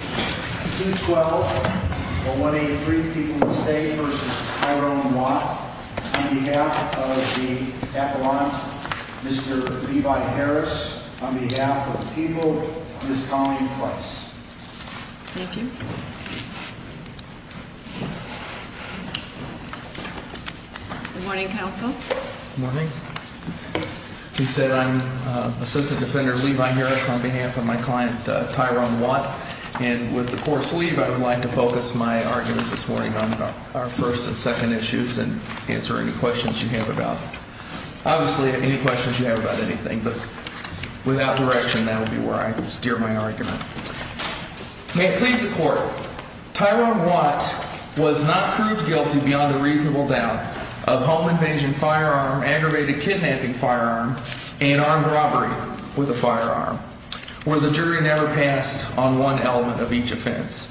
2-12-183 People in the State v. Tyrone Watt On behalf of the Appellant, Mr. Levi Harris On behalf of the people, Ms. Colleen Price Thank you Good morning, Counsel Good morning He said I'm Assistant Defender Levi Harris on behalf of my client, Tyrone Watt And with the Court's leave, I would like to focus my arguments this morning on our first and second issues And answer any questions you have about Obviously, any questions you have about anything, but without direction, that would be where I would steer my argument May it please the Court Tyrone Watt was not proved guilty beyond a reasonable doubt of home invasion firearm, aggravated kidnapping firearm And armed robbery with a firearm Where the jury never passed on one element of each offense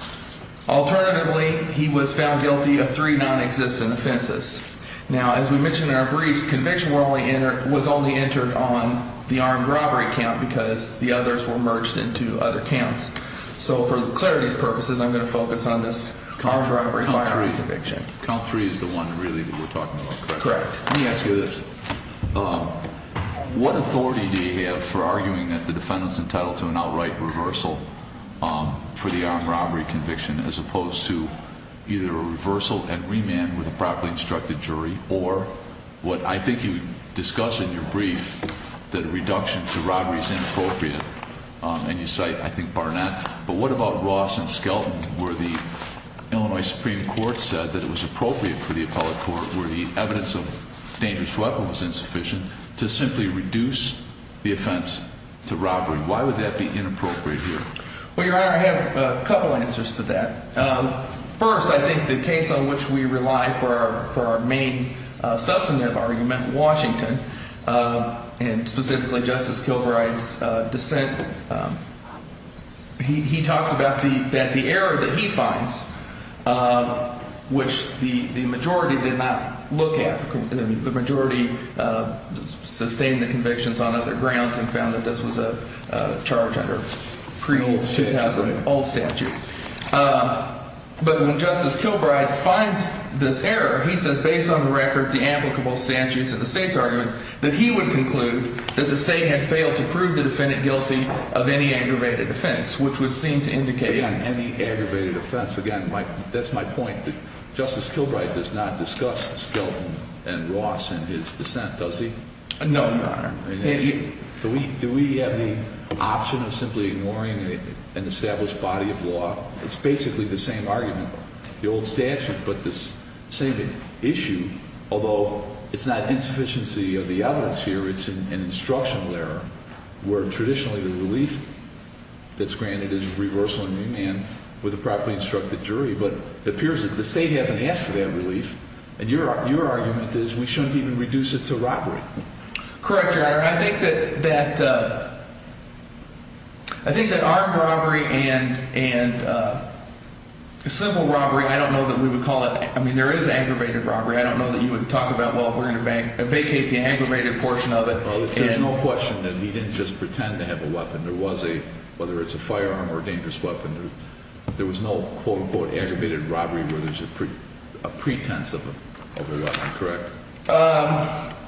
Alternatively, he was found guilty of three non-existent offenses Now, as we mentioned in our briefs, conviction was only entered on the armed robbery count Because the others were merged into other counts So, for clarity's purposes, I'm going to focus on this armed robbery firearm conviction Count three is the one, really, that we're talking about, correct? Correct Let me ask you this What authority do you have for arguing that the defendant's entitled to an outright reversal for the armed robbery conviction As opposed to either a reversal and remand with a properly instructed jury Or what I think you discuss in your brief, that a reduction to robbery is inappropriate And you cite, I think, Barnett But what about Ross and Skelton, where the Illinois Supreme Court said that it was appropriate for the appellate court Where the evidence of dangerous weapon was insufficient To simply reduce the offense to robbery Why would that be inappropriate here? Well, Your Honor, I have a couple answers to that First, I think the case on which we rely for our main substantive argument, Washington And, specifically, Justice Kilbride's dissent He talks about the error that he finds Which the majority did not look at The majority sustained the convictions on other grounds And found that this was a charge under pre-old statute But when Justice Kilbride finds this error He says, based on the record, the applicable statutes and the state's arguments That he would conclude that the state had failed to prove the defendant guilty of any aggravated offense Which would seem to indicate Again, any aggravated offense Again, that's my point Justice Kilbride does not discuss Skelton and Ross in his dissent, does he? No, Your Honor Do we have the option of simply ignoring an established body of law? It's basically the same argument The old statute, but the same issue Although it's not insufficiency of the evidence here It's an instructional error Where traditionally the relief that's granted is reversal in remand With a properly instructed jury But it appears that the state hasn't asked for that relief And your argument is we shouldn't even reduce it to robbery Correct, Your Honor Your Honor, I think that armed robbery and civil robbery I don't know that we would call it I mean, there is aggravated robbery I don't know that you would talk about Well, we're going to vacate the aggravated portion of it Well, there's no question that he didn't just pretend to have a weapon There was a Whether it's a firearm or a dangerous weapon There was no quote-unquote aggravated robbery Where there's a pretense of a weapon, correct?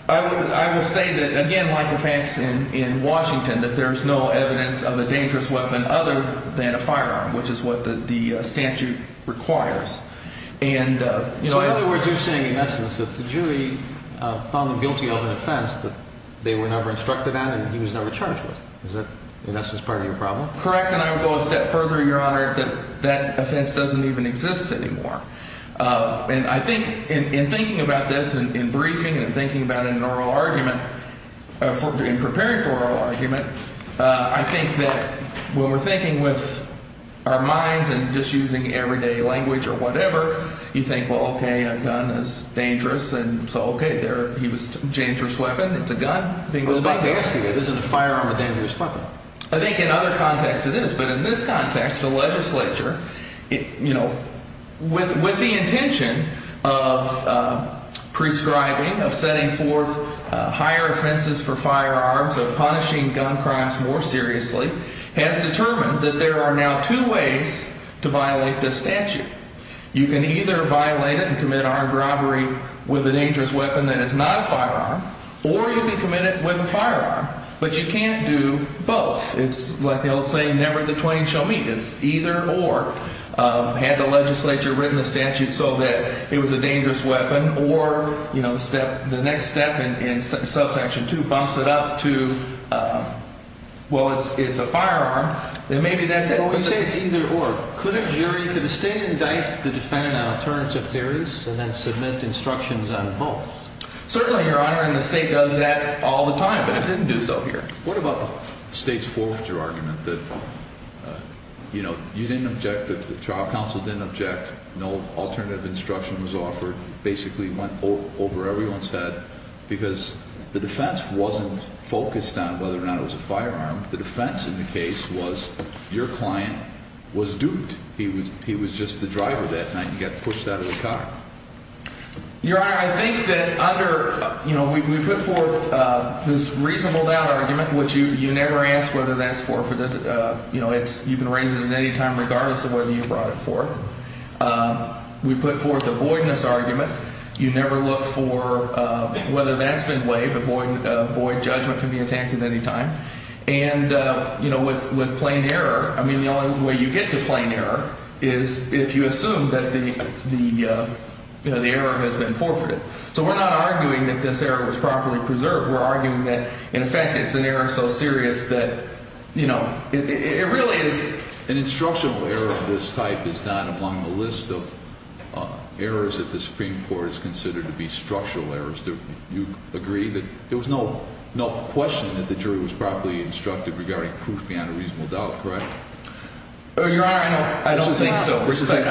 I would say that, again, like the facts in Washington That there's no evidence of a dangerous weapon other than a firearm Which is what the statute requires So in other words, you're saying in essence That the jury found the guilty of an offense That they were never instructed on and he was never charged with Is that in essence part of your problem? Correct, and I would go a step further, Your Honor That that offense doesn't even exist anymore And I think in thinking about this in briefing And thinking about it in an oral argument In preparing for an oral argument I think that when we're thinking with our minds And just using everyday language or whatever You think, well, okay, a gun is dangerous And so, okay, he was a dangerous weapon It's a gun I was about to ask you that Is it a firearm or a dangerous weapon? I think in other contexts it is But in this context, the legislature With the intention of prescribing Of setting forth higher offenses for firearms Of punishing gun crimes more seriously Has determined that there are now two ways To violate this statute You can either violate it and commit armed robbery With a dangerous weapon that is not a firearm Or you can commit it with a firearm But you can't do both It's like the old saying, never the twain shall meet It's either or Had the legislature written the statute So that it was a dangerous weapon Or, you know, the next step in subsection 2 Bumps it up to, well, it's a firearm Then maybe that's it Well, you say it's either or Could a jury, could a state indict The defendant on alternative theories And then submit instructions on both? Certainly, your honor And the state does that all the time But it didn't do so here What about the state's forfeiture argument? You know, you didn't object The trial counsel didn't object No alternative instruction was offered Basically went over everyone's head Because the defense wasn't focused on Whether or not it was a firearm The defense in the case was Your client was duped He was just the driver that night And got pushed out of the car Your honor, I think that under You know, we put forth this reasonable doubt argument Which you never ask whether that's forfeited You know, you can raise it at any time Regardless of whether you brought it forth We put forth a voidness argument You never look for whether that's been waived A void judgment can be attacked at any time And, you know, with plain error I mean, the only way you get to plain error Is if you assume that the error has been forfeited So we're not arguing that this error was properly preserved We're arguing that, in effect, it's an error so serious That, you know, it really is An instructional error of this type Is not among the list of errors That the Supreme Court has considered To be structural errors Do you agree that there was no question That the jury was properly instructed Regarding proof beyond a reasonable doubt, correct? Your honor, I don't think so Respectfully,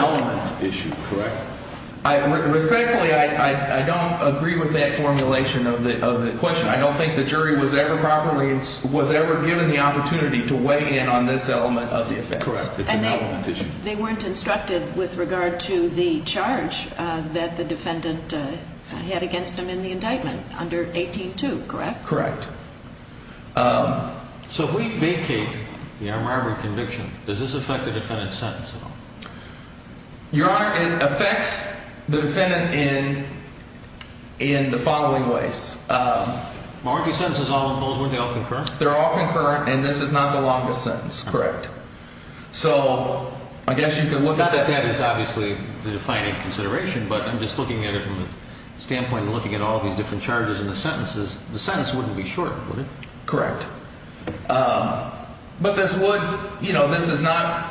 I don't agree with that formulation of the question I don't think the jury was ever properly Was ever given the opportunity To weigh in on this element of the offense And they weren't instructed with regard to the charge That the defendant had against him in the indictment Under 18-2, correct? Correct So if we vacate the armed robbery conviction Does this affect the defendant's sentence at all? Your honor, it affects the defendant in In the following ways Aren't these sentences all concurrent? They're all concurrent And this is not the longest sentence, correct? So, I guess you could look at that Not that that is obviously the defining consideration But I'm just looking at it from the standpoint Of looking at all these different charges in the sentences The sentence wouldn't be short, would it? Correct But this would, you know, this is not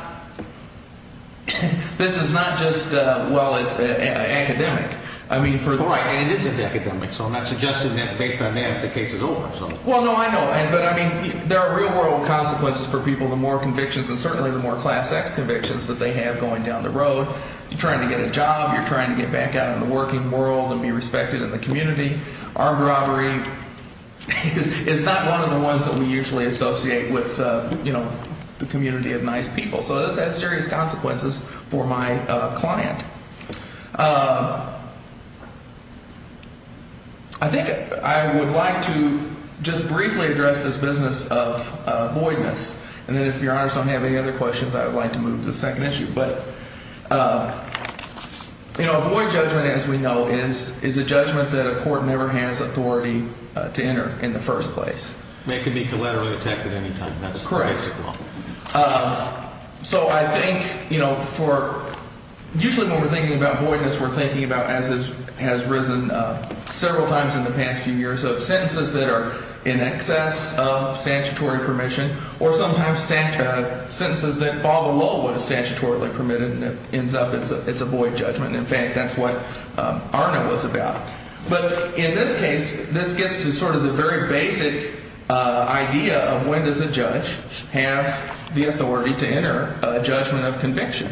This is not just, well, it's academic I mean for Right, and it isn't academic So I'm not suggesting that based on that The case is over, so Well, no, I know But I mean, there are real-world consequences For people, the more convictions And certainly the more class-X convictions That they have going down the road You're trying to get a job You're trying to get back out in the working world And be respected in the community Armed robbery is not one of the ones That we usually associate with, you know The community of nice people So this has serious consequences for my client I think I would like to just briefly address This business of voidness And then if your honors don't have any other questions I would like to move to the second issue But, you know, a void judgment as we know Is a judgment that a court never has authority To enter in the first place And it could be collaterally attacked at any time That's the basic law Correct So I think, you know, for Usually when we're thinking about voidness We're thinking about, as has risen several times In the past few years Of sentences that are in excess of statutory permission Or sometimes sentences that fall below What is statutorily permitted And it ends up, it's a void judgment In fact, that's what ARNA was about But in this case, this gets to sort of the very basic idea Of when does a judge have the authority To enter a judgment of conviction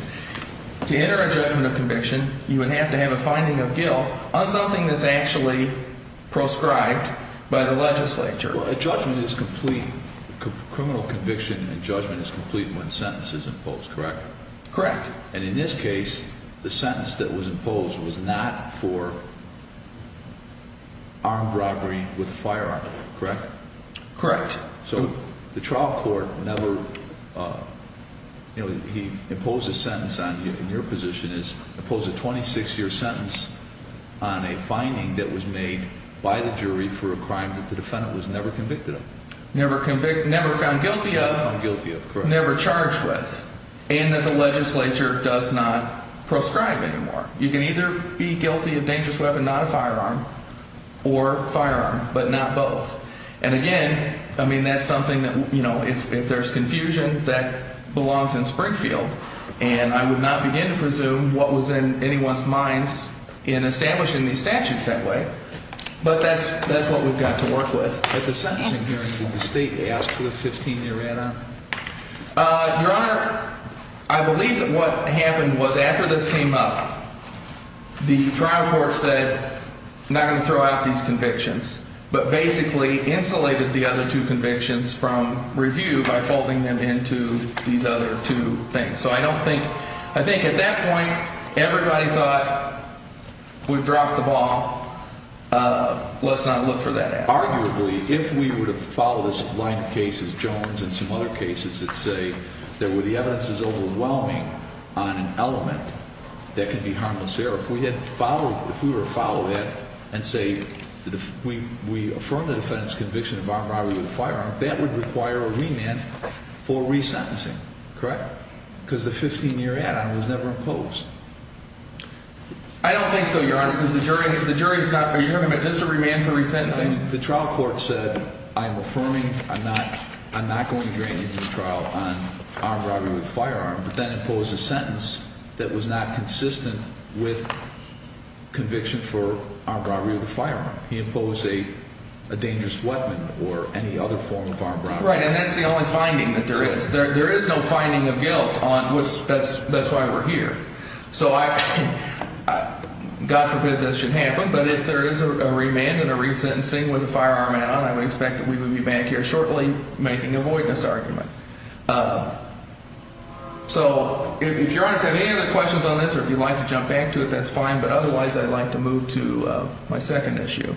To enter a judgment of conviction You would have to have a finding of guilt On something that's actually proscribed by the legislature Well, a judgment is complete Criminal conviction and judgment is complete When sentence is imposed, correct? Correct And in this case, the sentence that was imposed Was not for armed robbery with a firearm, correct? Correct So the trial court never, you know He imposed a sentence on you And your position is, impose a 26-year sentence On a finding that was made by the jury For a crime that the defendant was never convicted of Never found guilty of Never found guilty of, correct Never charged with And that the legislature does not proscribe anymore You can either be guilty of dangerous weapon Not a firearm Or firearm, but not both And again, I mean, that's something that, you know If there's confusion, that belongs in Springfield And I would not begin to presume What was in anyone's minds In establishing these statutes that way But that's what we've got to work with At the sentencing hearing in the state After the 15-year add-on Your Honor, I believe that what happened was After this came up The trial court said I'm not going to throw out these convictions But basically insulated the other two convictions From review by folding them into these other two things So I don't think I think at that point Everybody thought We've dropped the ball Let's not look for that add-on Arguably, if we were to follow this line of cases Jones and some other cases that say That where the evidence is overwhelming On an element That can be harmless there If we had followed If we were to follow that And say We affirm the defendant's conviction Of armed robbery with a firearm That would require a remand For resentencing, correct Because the 15-year add-on was never imposed I don't think so, Your Honor Because the jury The jury is not You're talking about just a remand for resentencing The trial court said I'm affirming I'm not I'm not going to grant you the trial On armed robbery with a firearm But then imposed a sentence That was not consistent with Conviction for armed robbery with a firearm He imposed a A dangerous weapon Or any other form of armed robbery Right, and that's the only finding that there is There is no finding of guilt on That's why we're here So I God forbid this should happen But if there is a remand And a resentencing with a firearm add-on I would expect that we would be back here shortly Making a voidness argument So if Your Honor Does have any other questions on this Or if you'd like to jump back to it That's fine But otherwise I'd like to move to My second issue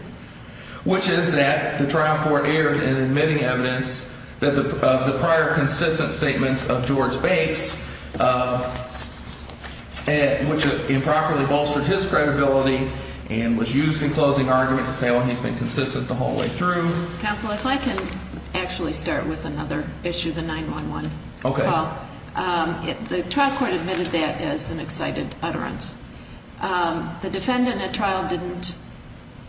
Which is that The trial court erred in admitting evidence That the prior consistent statements Of George Bates Which improperly bolstered his credibility And was used in closing argument To say oh he's been consistent the whole way through Counsel if I can Actually start with another issue The 911 call The trial court admitted that As an excited utterance The defendant at trial didn't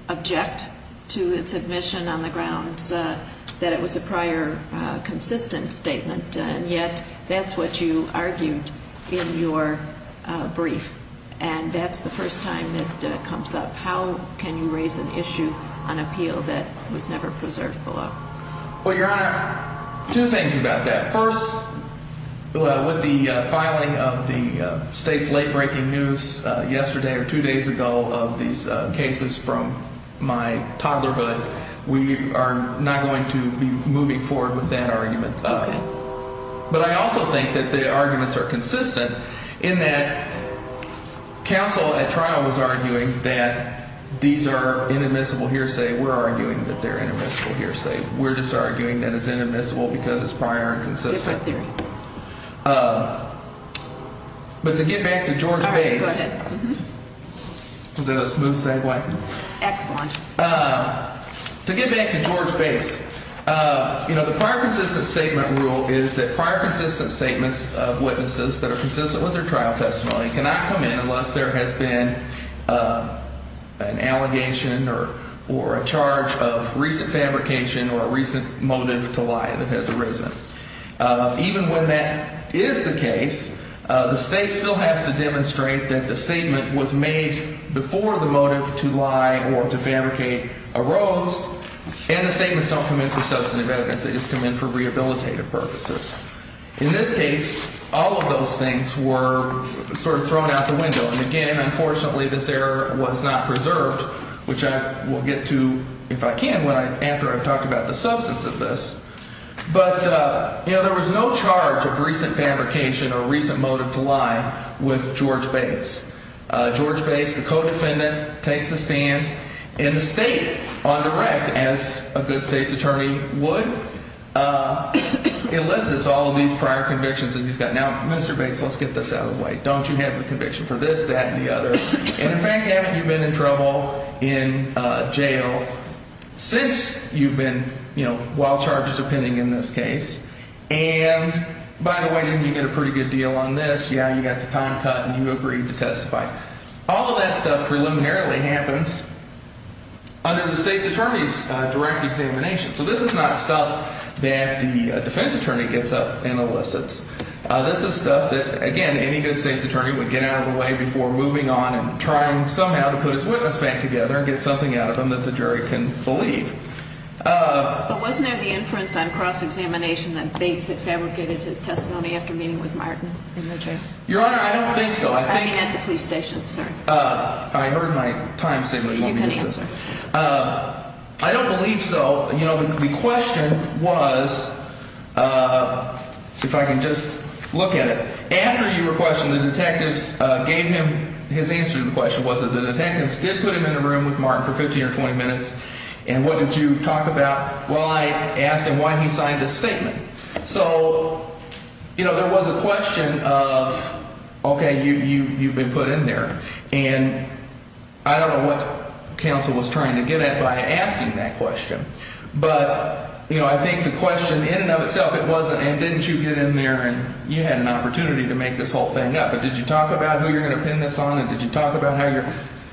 Object To its admission on the grounds That it was a prior Consistent statement And yet that's what you argued In your brief And that's the first time It comes up How can you raise an issue on appeal That was never preserved below Well Your Honor Two things about that First with the filing of the State's late breaking news Yesterday or two days ago Of these cases from my I'm not going to be moving forward With that argument But I also think that the arguments Are consistent in that Counsel at trial Was arguing that These are inadmissible hearsay We're arguing that they're inadmissible hearsay We're just arguing that it's inadmissible Because it's prior and consistent But to get back to George Bates Is that a smooth segue Excellent To get back to George Bates You know the prior consistent statement rule Is that prior consistent statements Of witnesses that are consistent With their trial testimony Cannot come in unless there has been An allegation Or a charge of recent fabrication Or a recent motive to lie That has arisen Even when that is the case The state still has to demonstrate That the statement was made Before the motive to lie Or to fabricate arose And the statements don't come in For substantive evidence They just come in for rehabilitative purposes In this case all of those things Were sort of thrown out the window And again unfortunately this error Was not preserved Which I will get to if I can After I've talked about the substance of this But there was no charge Of recent fabrication Or recent motive to lie With George Bates George Bates the co-defendant Takes the stand And the state on direct As a good state's attorney would Elicits all of these Prior convictions that he's got Now Mr. Bates let's get this out of the way Don't you have a conviction for this that and the other And in fact haven't you been in trouble In jail Since you've been While charges are pending in this case And by the way Didn't you get a pretty good deal on this Yeah you got the time cut and you agreed to testify All of that stuff Preliminarily happens Under the state's attorney's Direct examination so this is not stuff That the defense attorney Gets up and elicits This is stuff that again any good state's attorney Would get out of the way before moving on And trying somehow to put his witness back together And get something out of him that the jury Can believe But wasn't there the inference on cross examination That Bates had fabricated his testimony After meeting with Martin Your honor I don't think so At the police station I heard my time statement I don't believe so You know the question was If I can just look at it After you were questioned the detectives Gave him his answer to the question Was that the detectives did put him in a room With Martin for 15 or 20 minutes And what did you talk about While I asked him why he signed his statement So you know There was a question of Okay you've been put in there And I don't know what Counsel was trying to get at By asking that question But you know I think the question In and of itself it wasn't And didn't you get in there and you had an opportunity To make this whole thing up but did you talk about Who you're going to pin this on and did you talk about How you're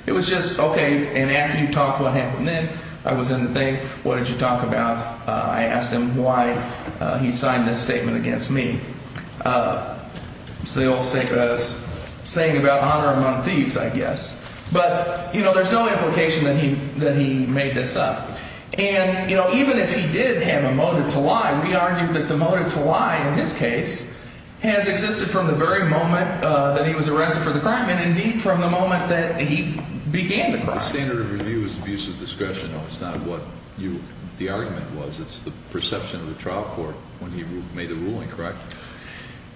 it was just okay And after you talked what happened then I was in the thing what did you talk about I asked him why He signed this statement against me It's the old saying about Honor among thieves I guess But you know there's no implication That he made this up And you know even if he did have a motive To lie we argued that the motive to lie In his case Has existed from the very moment That he was arrested for the crime and indeed From the moment that he began the crime The standard of review is abuse of discretion It's not what the argument was It's the perception of the trial court When he made the ruling correct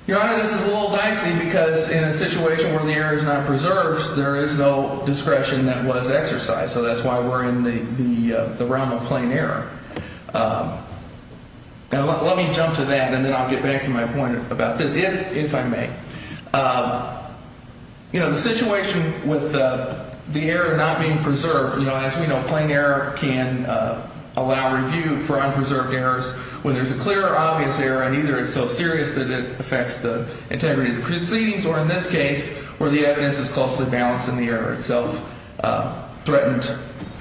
Your honor this is a little dicey Because in a situation where the error Is not preserved there is no discretion That was exercised so that's why We're in the realm of plain error Now let me jump to that And then I'll get back to my point about this If I may You know the situation With the error not being Preserved in the trial court Can allow review for unpreserved errors When there's a clear or obvious error And either it's so serious that it affects The integrity of the proceedings Or in this case where the evidence is Closely balanced and the error itself Threatened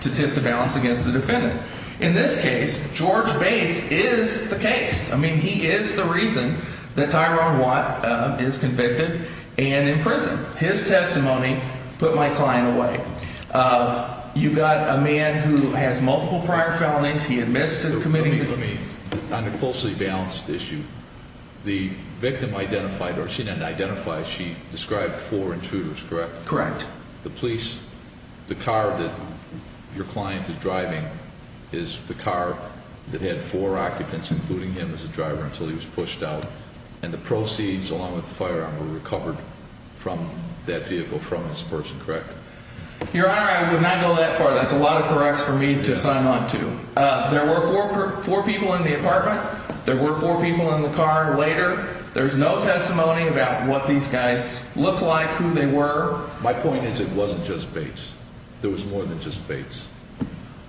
to tip the balance Against the defendant In this case George Bates is the case I mean he is the reason That Tyrone Watt is convicted And in prison His testimony put my client away You've got a man Who has multiple prior felonies He admits to committing On a closely balanced issue The victim identified Or she didn't identify She described four intruders correct? Correct The car that your client is driving Is the car That had four occupants including him As a driver until he was pushed out And the proceeds along with the firearm Were recovered from that vehicle Your Honor I would not go that far That's a lot of corrects for me to sign on to There were four people in the apartment There were four people in the car later There's no testimony about what these guys Looked like who they were My point is it wasn't just Bates There was more than just Bates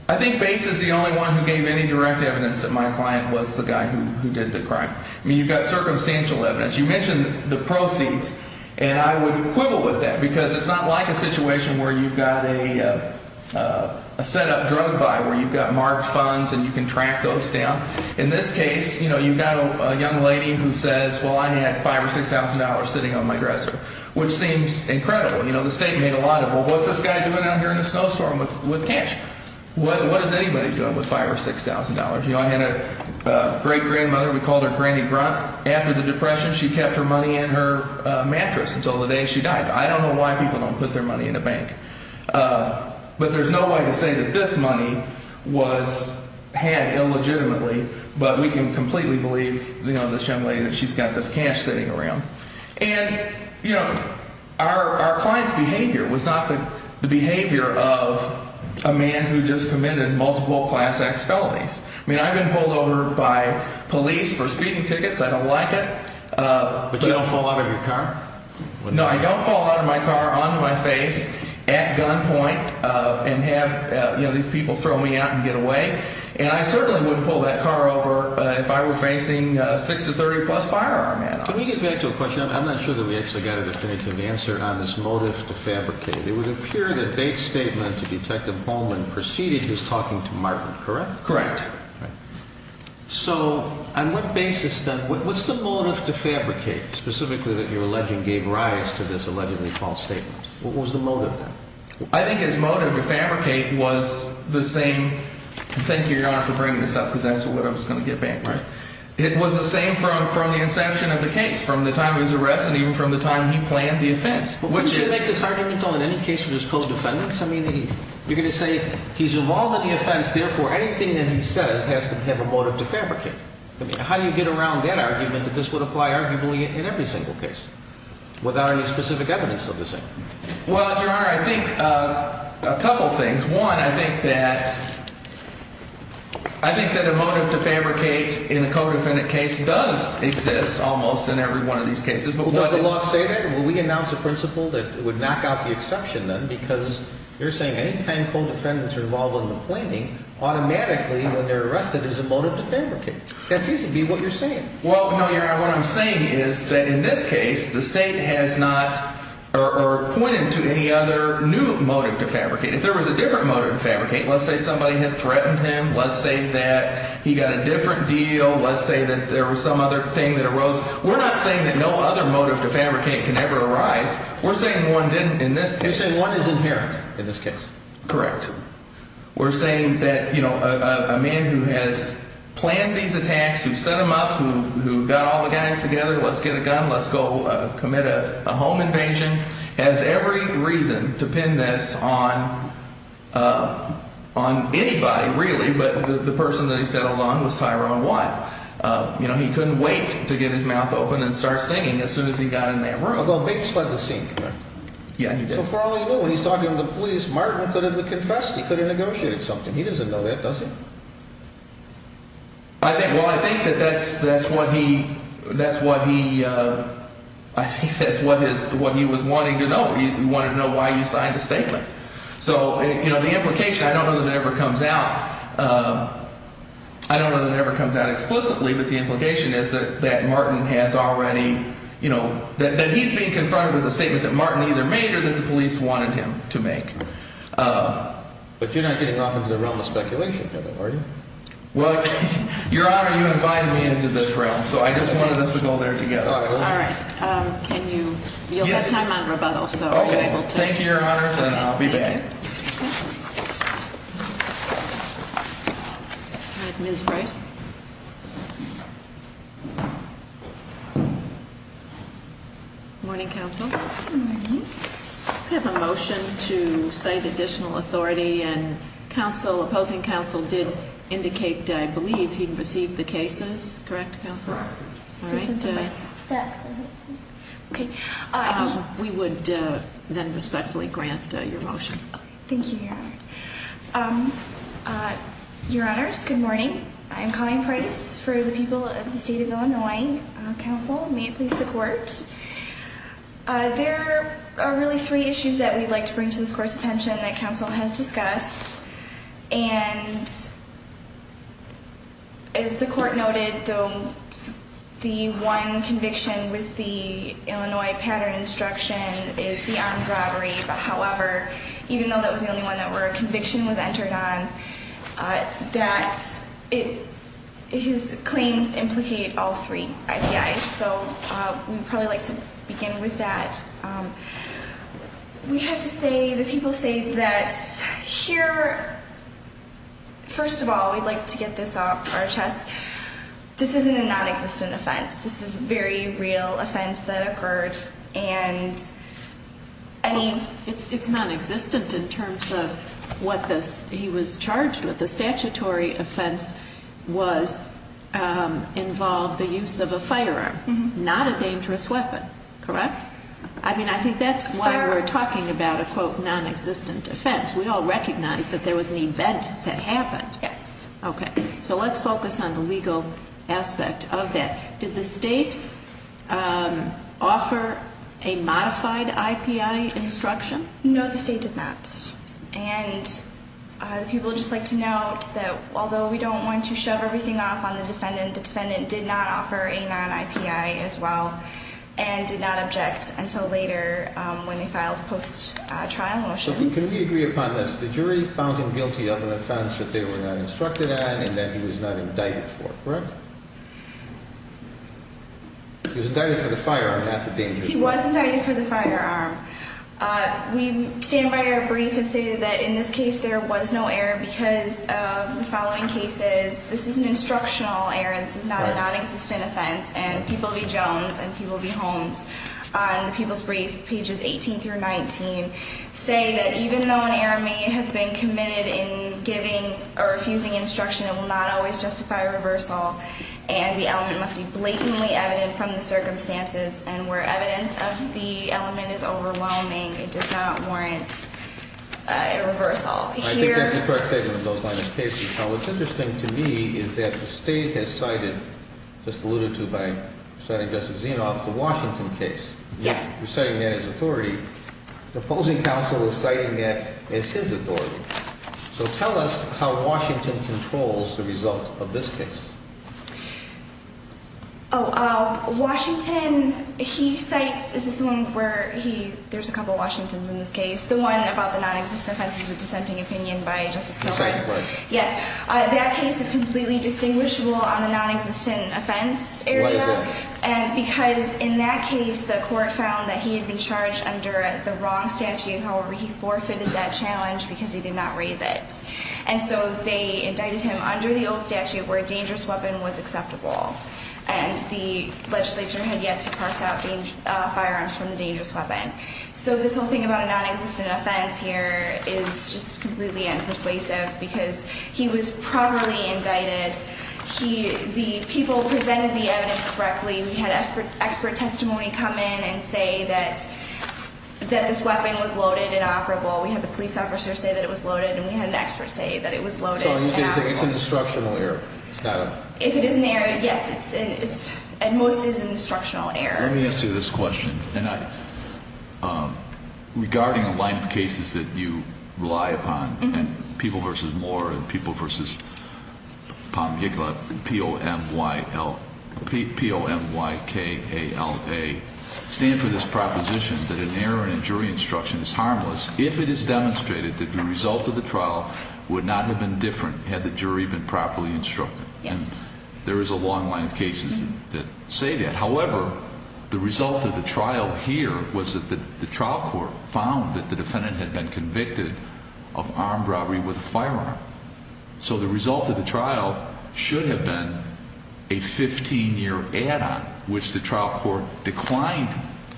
I think Bates is the only one Who gave any direct evidence That my client was the guy who did the crime I mean you've got circumstantial evidence You mentioned the proceeds And I would quibble with that Because it's not like a situation Where you've got a Set up drug buy Where you've got marked funds And you can track those down In this case you've got a young lady Who says well I had five or six thousand dollars Sitting on my dresser Which seems incredible The state made a lot of Well what's this guy doing out here In a snowstorm with cash What is anybody doing with five or six thousand dollars I had a great grandmother We called her Granny Grunt After the depression she kept her money in her Mattress until the day she died I don't know why people don't put their money in a bank But there's no way to say That this money was Had illegitimately But we can completely believe This young lady that she's got this cash sitting around And you know Our client's behavior Was not the behavior of A man who just committed Multiple class acts felonies I mean I've been pulled over by Police for speeding tickets I don't like it But you don't fall out of your car? No I don't fall out of my car onto my face At gunpoint And have these people throw me out And get away And I certainly wouldn't pull that car over If I were facing six to thirty plus firearm Can we get back to a question I'm not sure that we actually got a definitive answer On this motive to fabricate It would appear that Bates statement To Detective Bowman preceded his talking to Martin Correct? Correct So on what basis then What's the motive to fabricate Specifically that you're alleging gave rise to this allegedly false statement What was the motive then? I think his motive to fabricate Was the same Thank you your honor for bringing this up Because that's what I was going to get back It was the same from the inception of the case From the time he was arrested And even from the time he planned the offense But wouldn't you make this argument though In any case where there's co-defendants You're going to say he's involved in the offense Therefore anything that he says Has to have a motive to fabricate How do you get around that argument That this would apply arguably in every single case Without any specific evidence of the same Well your honor I think A couple things One I think that I think that a motive to fabricate In a co-defendant case does exist Almost in every one of these cases Does the law say that? Will we announce a principle that would knock out the exception then Because you're saying Anytime co-defendants are involved in the planning Automatically when they're arrested There's a motive to fabricate That seems to be what you're saying Well no your honor what I'm saying is That in this case the state has not Or pointed to any other new motive to fabricate If there was a different motive to fabricate Let's say somebody had threatened him Let's say that he got a different deal Let's say that there was some other thing that arose We're not saying that no other motive to fabricate Can ever arise We're saying one didn't in this case You're saying one is inherent in this case Correct We're saying that a man who has Planned these attacks Who set them up Who got all the guys together Let's get a gun Let's go commit a home invasion Has every reason to pin this on On anybody really But the person that he settled on Was Tyrone White He couldn't wait to get his mouth open And start singing as soon as he got in that room Although Bates fled the scene So for all you know when he's talking to the police Martin could have confessed He could have negotiated something He doesn't know that does he Well I think that that's what he That's what he I think that's what he was wanting to know He wanted to know why he signed the statement So the implication I don't know that it ever comes out I don't know that it ever comes out explicitly But the implication is that Martin has already That he's being confronted with a statement That Martin either made Or that the police wanted him to make But you're not getting off into the realm of speculation Are you Well your Honor You invited me into this realm So I just wanted us to go there together All right You'll have time on Rubello So are you able to Thank you your Honor and I'll be back Thank you All right Ms. Bryce Morning Counsel Morning We have a motion to cite additional authority And Counsel Opposing Counsel did indicate I believe he received the cases Correct Counsel All right We would Then respectfully grant your motion Thank you your Honor Your Honors good morning I'm Colleen Bryce for the people of the State of Illinois Counsel May it please the Court There are really three issues That we'd like to bring to this Court's attention That Counsel has discussed And As the Court noted The One conviction with the Object is the armed robbery But however Even though that was the only one where a conviction was entered on That His claims Implicate all three IPIs So we'd probably like to begin with that We have to say The people say that Here First of all we'd like to get this off our chest This isn't a non-existent offense This is a very real offense That occurred And It's non-existent in terms of What he was charged with The statutory offense Was Involved the use of a firearm Not a dangerous weapon Correct I think that's why we're talking about a quote non-existent offense We all recognize that there was an event That happened Yes So let's focus on the legal aspect of that Did the state Offer A modified IPI instruction No the state did not And People just like to note that Although we don't want to shove everything off on the defendant The defendant did not offer a non-IPI As well And did not object until later When they filed post-trial motions So can we agree upon this The jury found him guilty of an offense that they were not instructed on And that he was not indicted for Correct He was indicted for the firearm Not the dangerous weapon He was indicted for the firearm We stand by our brief and say that In this case there was no error Because of the following cases This is an instructional error This is not a non-existent offense And People v. Jones and People v. Holmes On the People's Brief Pages 18 through 19 Say that even though an error may have been committed In giving or refusing instruction It will not always justify a reversal And the element must be blatantly evident From the circumstances And where evidence of the element is overwhelming It does not warrant a reversal I think that's a correct statement Of those line of cases Now what's interesting to me Is that the state has cited Just alluded to by Senator Justice Zinoff The Washington case Yes You're citing that as authority The opposing counsel is citing it As his authority So tell us how Washington Controls the result of this case Oh, um, Washington He cites, this is the one where He, there's a couple of Washingtons in this case The one about the non-existent offense Is the dissenting opinion by Justice Kilgour Yes, that case is completely Distinguishable on the non-existent Offense area Because in that case The court found that he had been charged Under the wrong statute However, he forfeited that challenge Because he did not raise it And so they indicted him under the old statute Where a dangerous weapon was acceptable And the legislature had yet To parse out firearms From the dangerous weapon So this whole thing about a non-existent offense here Is just completely unpersuasive Because he was properly Indicted The people presented the evidence correctly We had expert testimony come in And say that That this weapon was loaded and operable We had the police officer say that it was loaded And we had an expert say that it was loaded and operable So it's an instructional error If it is an error, yes At most it is an instructional error Let me ask you this question Regarding The line of cases that you rely upon People versus Moore People versus POMYL P-O-M-Y-K-A-L-A Stand for this proposition That an error in a jury instruction Is harmless if it is demonstrated That the result of the trial Would not have been different Had the jury been properly instructed And there is a long line of cases That say that However, the result of the trial here Was that the trial court found That the defendant had been convicted Of armed robbery with a firearm So the result of the trial Should have been A 15-year add-on Which the trial court declined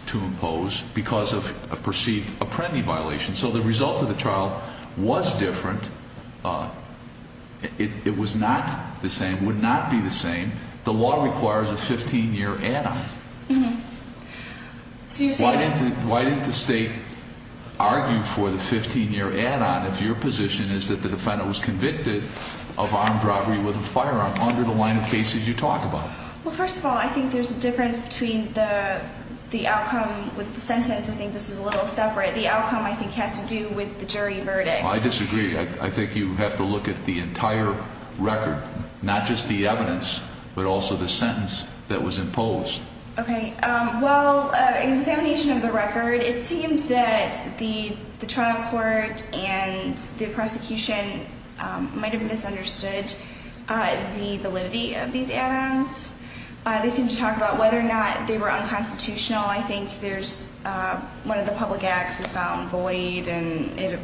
To impose because of A perceived apprendee violation So the result of the trial was different It was not the same Would not be the same The law requires a 15-year add-on Why didn't the state Argue for the 15-year add-on If your position is that the defendant Was convicted of armed robbery With a firearm under the line of cases You talk about? First of all, I think there is a difference Between the outcome with the sentence I think this is a little separate The outcome has to do with the jury verdict I disagree. I think you have to look at The entire record Not just the evidence But also the sentence that was imposed In examination of the record It seems that the trial court And the prosecution Might have misunderstood The validity of these add-ons They seem to talk about whether or not They were unconstitutional I think one of the public acts Is found void I'm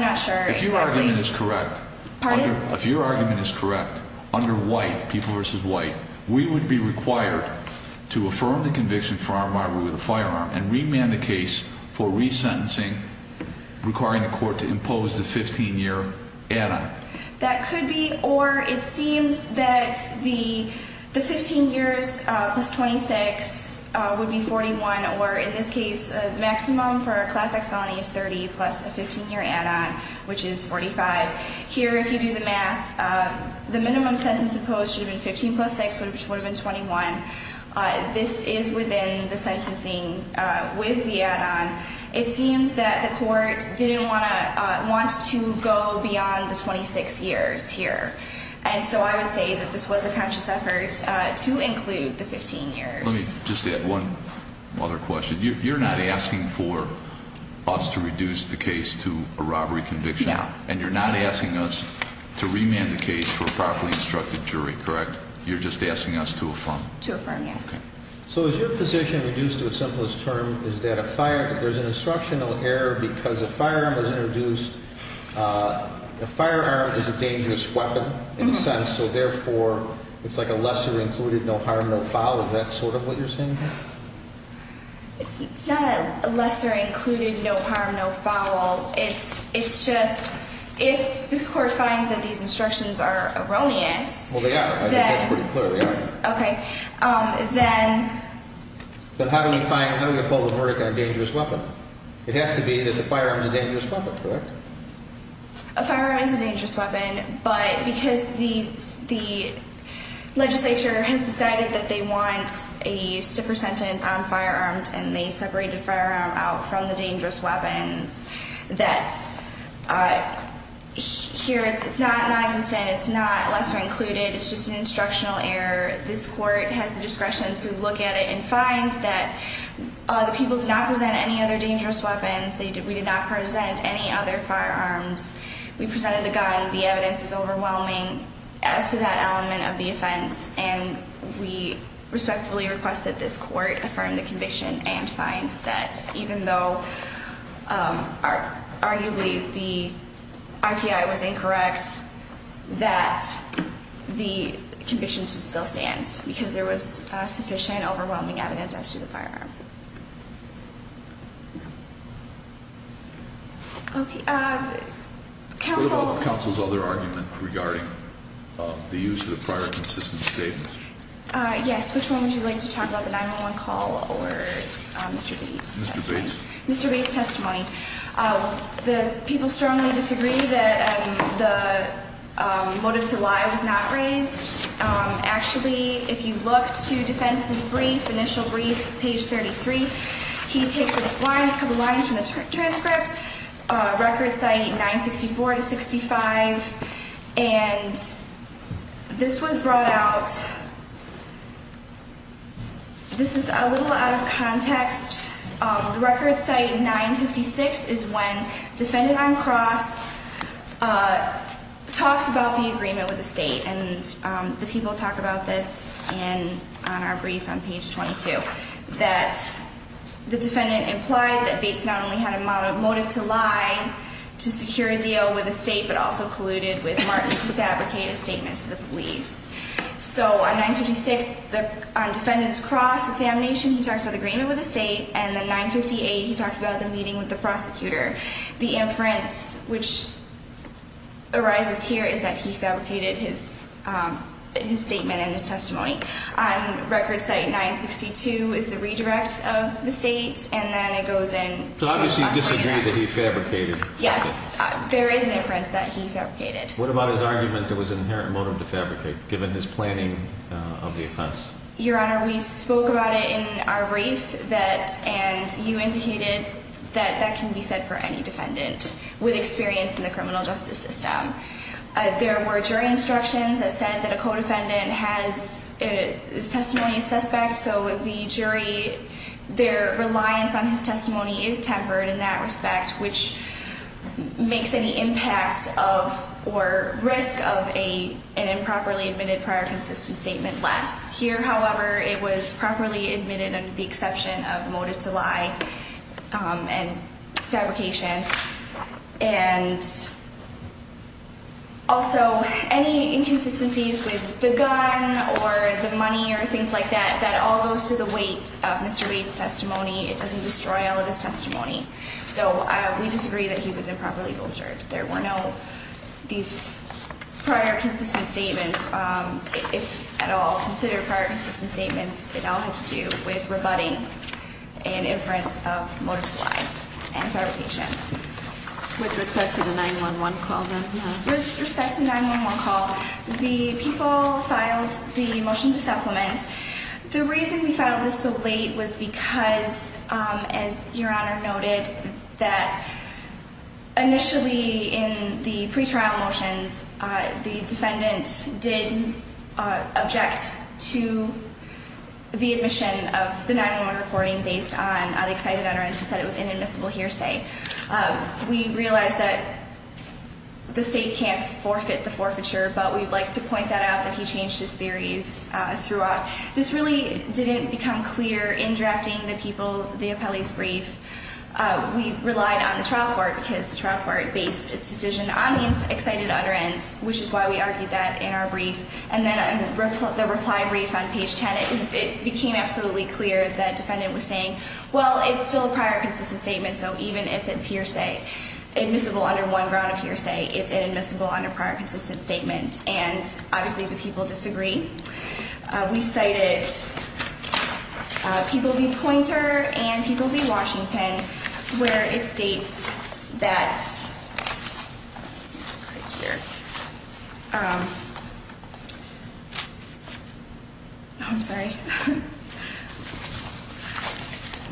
not sure If your argument is correct Under white, people versus white We would be required To affirm the conviction for armed robbery With a firearm and remand the case For resentencing Requiring the court to impose The 15-year add-on That could be Or it seems that The 15 years plus 26 Would be 41 Or in this case The maximum for a class X felony Is 30 plus a 15-year add-on Which is 45 Here if you do the math The minimum sentence imposed Should have been 15 plus 6 Which would have been 21 This is within the sentencing With the add-on It seems that the court Didn't want to go Beyond the 26 years here And so I would say That this was a conscious effort To include the 15 years Let me just add one other question You're not asking for us To reduce the case to a robbery conviction And you're not asking us To remand the case To a properly instructed jury, correct? You're just asking us to affirm To affirm, yes So is your position reduced to a simplest term Is that there's an instructional error Because a firearm was introduced A firearm is a dangerous weapon In a sense So therefore it's like a lesser included No harm, no foul Is that sort of what you're saying here? It's not a lesser included No harm, no foul It's just If this court finds that these instructions Are erroneous Well they are, I think that's pretty clear Okay, then But how do we find How do we pull the verdict on a dangerous weapon? It has to be that the firearm is a dangerous weapon, correct? A firearm is a dangerous weapon But because the The Legislature has decided that they want A stiffer sentence on firearms And they separated a firearm out From the dangerous weapons That Here it's Not non-existent, it's not lesser included It's just an instructional error This court has the discretion to look At it and find that The people did not present any other dangerous Weapons, we did not present Any other firearms We presented the gun, the evidence is overwhelming As to that element of the Offense and we Respectfully request that this court Affirm the conviction and find that Even though Arguably the R.P.I. was incorrect That The conviction still stands Because there was sufficient overwhelming Evidence as to the firearm Okay, uh What about the council's other argument regarding The use of the prior Consistent statements? Yes, which one would you like to talk about, the 911 call Or Mr. Bates' testimony? Mr. Bates' testimony The people strongly Disagree that the Motive to lies is not Raised, actually If you look to defense's brief Initial brief, page 33 He takes a couple lines From the transcript Record citing 964 to 65 And This was brought out This is A little out of context The record Citing 956 is when Defendant on cross Talks about The agreement with the state and The people talk about this On our brief on page 22 That the Defendant implied that Bates not only had A motive to lie To secure a deal with the state but also Colluded with Martin to fabricate a Statement to the police So on 956 Defendant's cross examination He talks about the agreement with the state And then 958 he talks about the meeting with the prosecutor The inference which Arises here is that He fabricated his Statement and his testimony On record citing 962 Is the redirect of the state And then it goes in So obviously he disagreed that he fabricated Yes, there is an inference that he fabricated What about his argument that there was an Inherent motive to fabricate given his planning Of the offense? Your honor We spoke about it in our brief And you indicated That that can be said for any defendant With experience in the criminal justice System There were jury instructions that said that a Codefendant has Testimony of suspects so the jury Their reliance On his testimony is tempered in that Respect which Makes any impact Of or risk of An improperly admitted prior Consistent statement last Here however it was properly admitted Under the exception of motive to lie And Fabrication And Also any inconsistencies With the gun or The money or things like that That all goes to the weight of Mr. Wade's testimony It doesn't destroy all of his testimony So we disagree that he was Improperly bolstered. There were no These prior Consistent statements If at all considered prior consistent Statements it all had to do with rebutting An inference of Motive to lie and fabrication With respect to the 9-1-1 call then? With respect to the 9-1-1 call The people filed the motion To supplement. The reason we Filed this so late was because As your honor noted That Initially in the Pretrial motions the Defendant did Object to The admission of the 9-1-1 reporting based on the Excited utterance that it was an inadmissible hearsay We realized that The state can't Forfeit the forfeiture but we'd like to Point that out that he changed his theories Throughout. This really didn't Become clear in drafting the Appellee's brief We relied on the trial court because The trial court based its decision on The excited utterance which is why we Argued that in our brief and then The reply brief on page 10 It became absolutely clear that The defendant was saying well it's still A prior consistent statement so even if it's Hearsay admissible under one Ground of hearsay it's inadmissible under Prior consistent statement and obviously The people disagree We cited People v. Pointer And people v. Washington Where it states That I'm sorry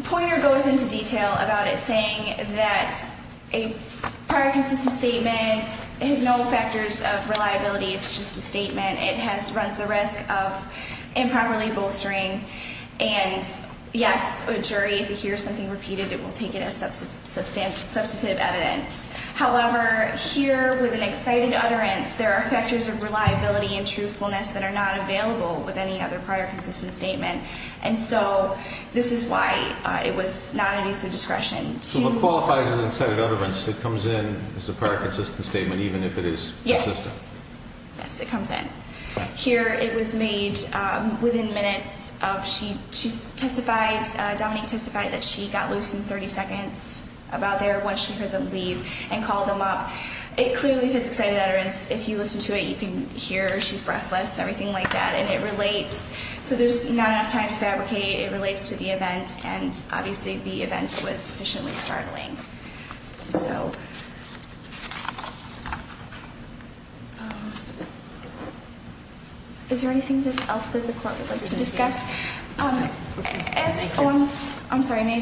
Pointer goes into detail about it saying That a Prior consistent statement Has no factors of reliability It's just a statement It runs the risk of improperly Bolstering and Yes a jury if it hears something Repeated it will take it as Substantive evidence However here with an excited Utterance there are factors of reliability And truthfulness that are not available With any other prior consistent statement And so this is why It was not an use of discretion So what qualifies as an excited utterance That comes in as a prior consistent Statement even if it is Yes it comes in Here it was made within Minutes of she Testified Dominique testified that she Got loose in 30 seconds About there once she heard them leave And called them up it clearly fits Excited utterance if you listen to it you can Hear she's breathless everything like that And it relates so there's not enough Time to fabricate it relates to the event And obviously the event was Sufficiently startling So Is there anything else That the court would like to discuss I'm sorry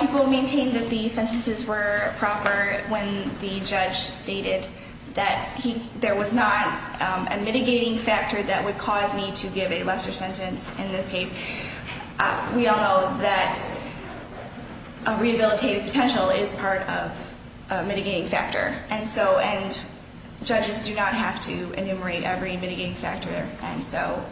People maintain that the sentences Were proper when the Judge stated that He there was not a mitigating Factor that would cause me to give A lesser sentence in this case We all know that A rehabilitative Potential is part of Mitigating factor and so and Judges do not have to Enumerate every mitigating factor And so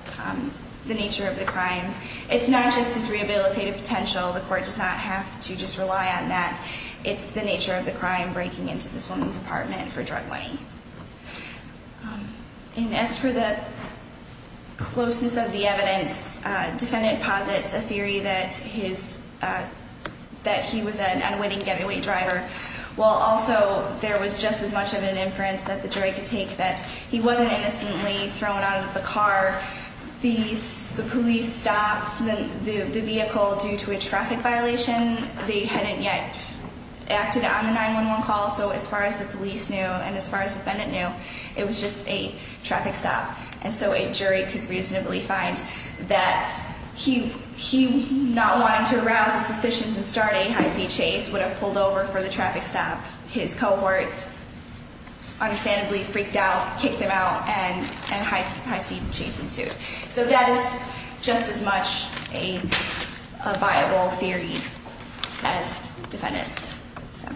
the nature of the Crime it's not just his rehabilitative Potential the court does not have To just rely on that it's The nature of the crime breaking into this Woman's apartment for drug money And as for the Closeness of the evidence Defendant posits a theory That his That he was an unwitting getaway driver While also there was Just as much of an inference that the jury Could take that he wasn't innocently Thrown out of the car The police stopped The vehicle due to a traffic Violation they hadn't yet Acted on the 911 Call so as far as the police knew And as far as defendant knew it was just a Traffic stop and so a jury Could reasonably find that He he not Wanting to arouse the suspicions and starting High-speed chase would have pulled over for the traffic Stop his cohorts Understandably freaked out Kicked him out and and high High-speed chase ensued so that Is just as much a A viable theory As defendants So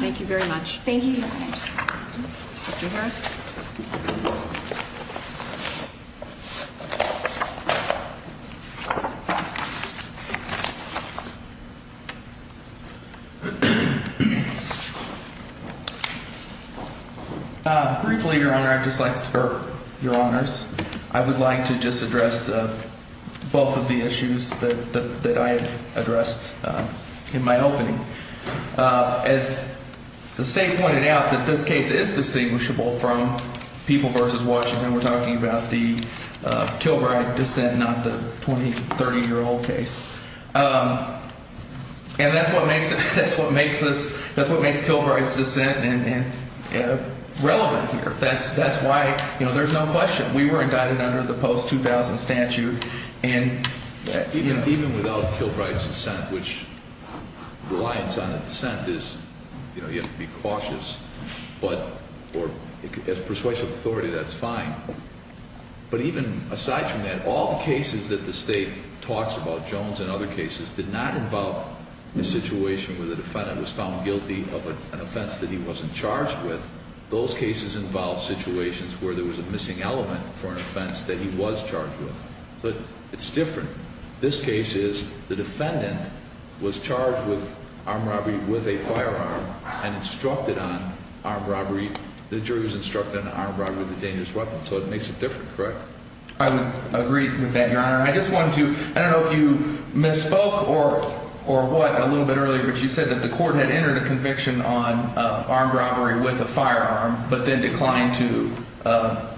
thank you Very much thank you Mr. Harris Thank you Thank you Thank you Thank you Thank you Thank you Briefly your honor I would like to Just address Both of the issues That I addressed In my opening As The state pointed out that this case is Distinguishable from People vs Washington We're talking about the Kilbride dissent Not the 20-30 year old case And that's what makes That's what makes Kilbride's dissent Relevant here That's why there's no question We were indicted under the post 2000 Statute Even without Kilbride's dissent Which Reliance on a dissent is You have to be cautious But as persuasive authority That's fine But even aside from that All the cases that the state Talks about, Jones and other cases Did not involve the situation Where the defendant was found guilty Of an offense that he wasn't charged with Those cases involve situations Where there was a missing element For an offense that he was charged with But it's different This case is the defendant Was charged with armed robbery With a firearm And instructed on armed robbery The jury was instructed on armed robbery With a dangerous weapon So it makes it different, correct? I would agree with that, your honor I don't know if you misspoke Or what a little bit earlier But you said that the court had entered A conviction on armed robbery With a firearm But then declined to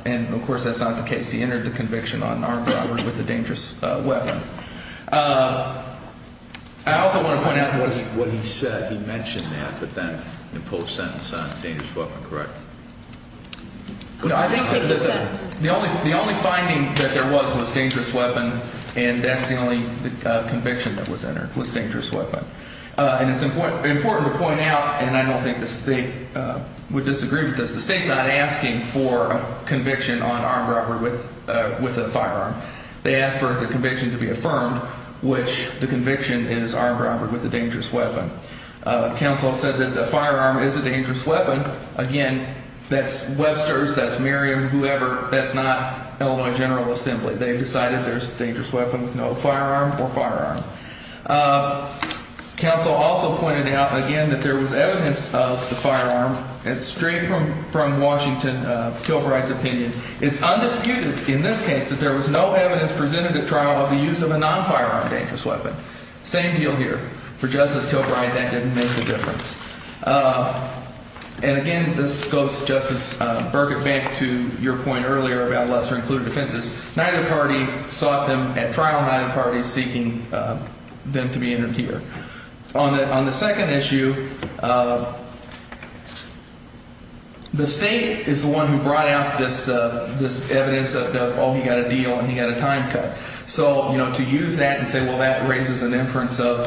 And of course that's not the case He entered the conviction on armed robbery With a dangerous weapon I also want to point out What he said, he mentioned that But then in the post-sentence Dangerous weapon, correct? I think that The only finding that there was Was dangerous weapon And that's the only conviction that was entered Was dangerous weapon And it's important to point out And I don't think the state Would disagree with this The state's not asking for a conviction On armed robbery with a firearm They asked for the conviction to be affirmed Which the conviction is Armed robbery with a dangerous weapon Counsel said that the firearm Is a dangerous weapon Again, that's Webster's, that's Merriam Whoever, that's not Illinois General Assembly They've decided there's dangerous weapons No firearm or firearm Counsel also pointed out Again, that there was evidence of the firearm And straight from Washington, Kilbride's opinion It's undisputed in this case That there was no evidence presented at trial Of the use of a non-firearm dangerous weapon Same deal here For Justice Kilbride, that didn't make the difference And again This goes, Justice Burkett Back to your point earlier About lesser-included offenses Neither party sought them at trial Neither party seeking them to be interviewed On the second issue The state Is the one who brought out this Evidence of, oh, he got a deal And he got a time cut So, you know, to use that and say, well, that raises an inference Of,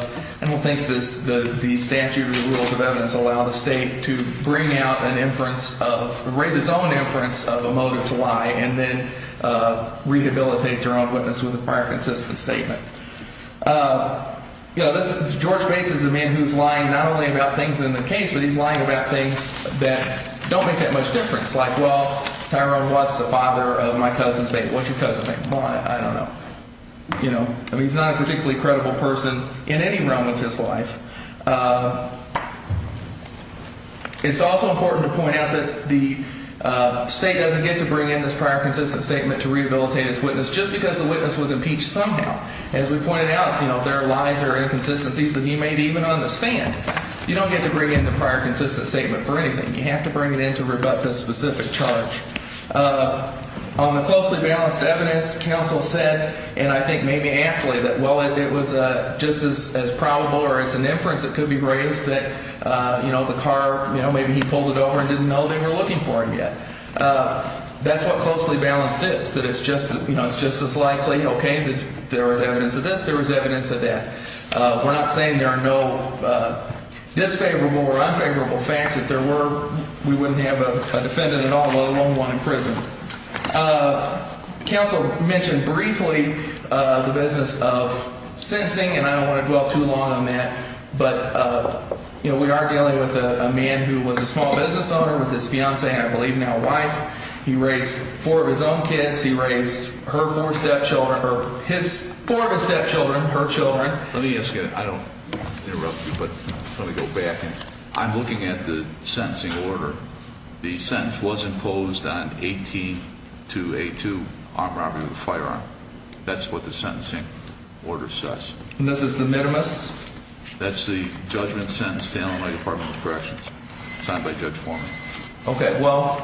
I don't think the Statute of the Rules of Evidence Allow the state to bring out an inference Of, raise its own inference Of a motive to lie And then rehabilitate your own witness With a prior consistent statement You know, this George Bates is a man who's lying Not only about things in the case, but he's lying About things that don't make that much difference Like, well, Tyrone Watts The father of my cousin's baby What's your cousin's name? I don't know You know, I mean, he's not a particularly credible Person in any realm of his life It's also important To point out that the State doesn't get to bring in this prior consistent Statement to rehabilitate its witness Just because the witness was impeached somehow As we pointed out, you know, there are lies There are inconsistencies that he may even understand You don't get to bring in the prior Consistent statement for anything You have to bring it in to rebut the specific charge On the closely balanced Evidence, counsel said And I think maybe aptly That, well, it was just as probable Or it's an inference that could be raised That, you know, the car, you know, maybe He pulled it over and didn't know they were looking for him yet That's what closely It's just as likely, okay, that There was evidence of this, there was evidence of that We're not saying there are no Disfavorable or unfavorable Facts, if there were, we wouldn't Have a defendant at all, let alone one In prison Counsel mentioned briefly The business of Sentencing, and I don't want to dwell too long on that But, you know, We are dealing with a man who was a Small business owner with his fiancee, I believe Now wife, he raised Four of his own kids, he raised Her four stepchildren, her His four of his stepchildren, her children Let me ask you, I don't want to interrupt you But let me go back I'm looking at the sentencing order The sentence was imposed On 18-A2 Armed robbery with a firearm That's what the sentencing order says And this is the minimus? That's the judgment sentence Staten Island Department of Corrections Signed by Judge Foreman Okay, well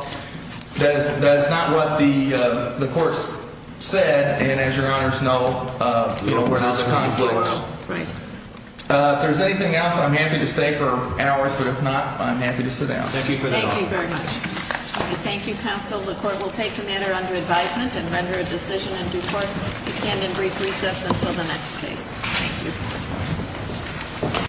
That is not what the Court said, and as Your honors know We're not going to be able to blow it out If there's anything else, I'm happy to stay For hours, but if not, I'm happy to Sit down, thank you for that Thank you, counsel, the court will take The matter under advisement and render a decision In due course, we stand in brief Recess until the next case, thank you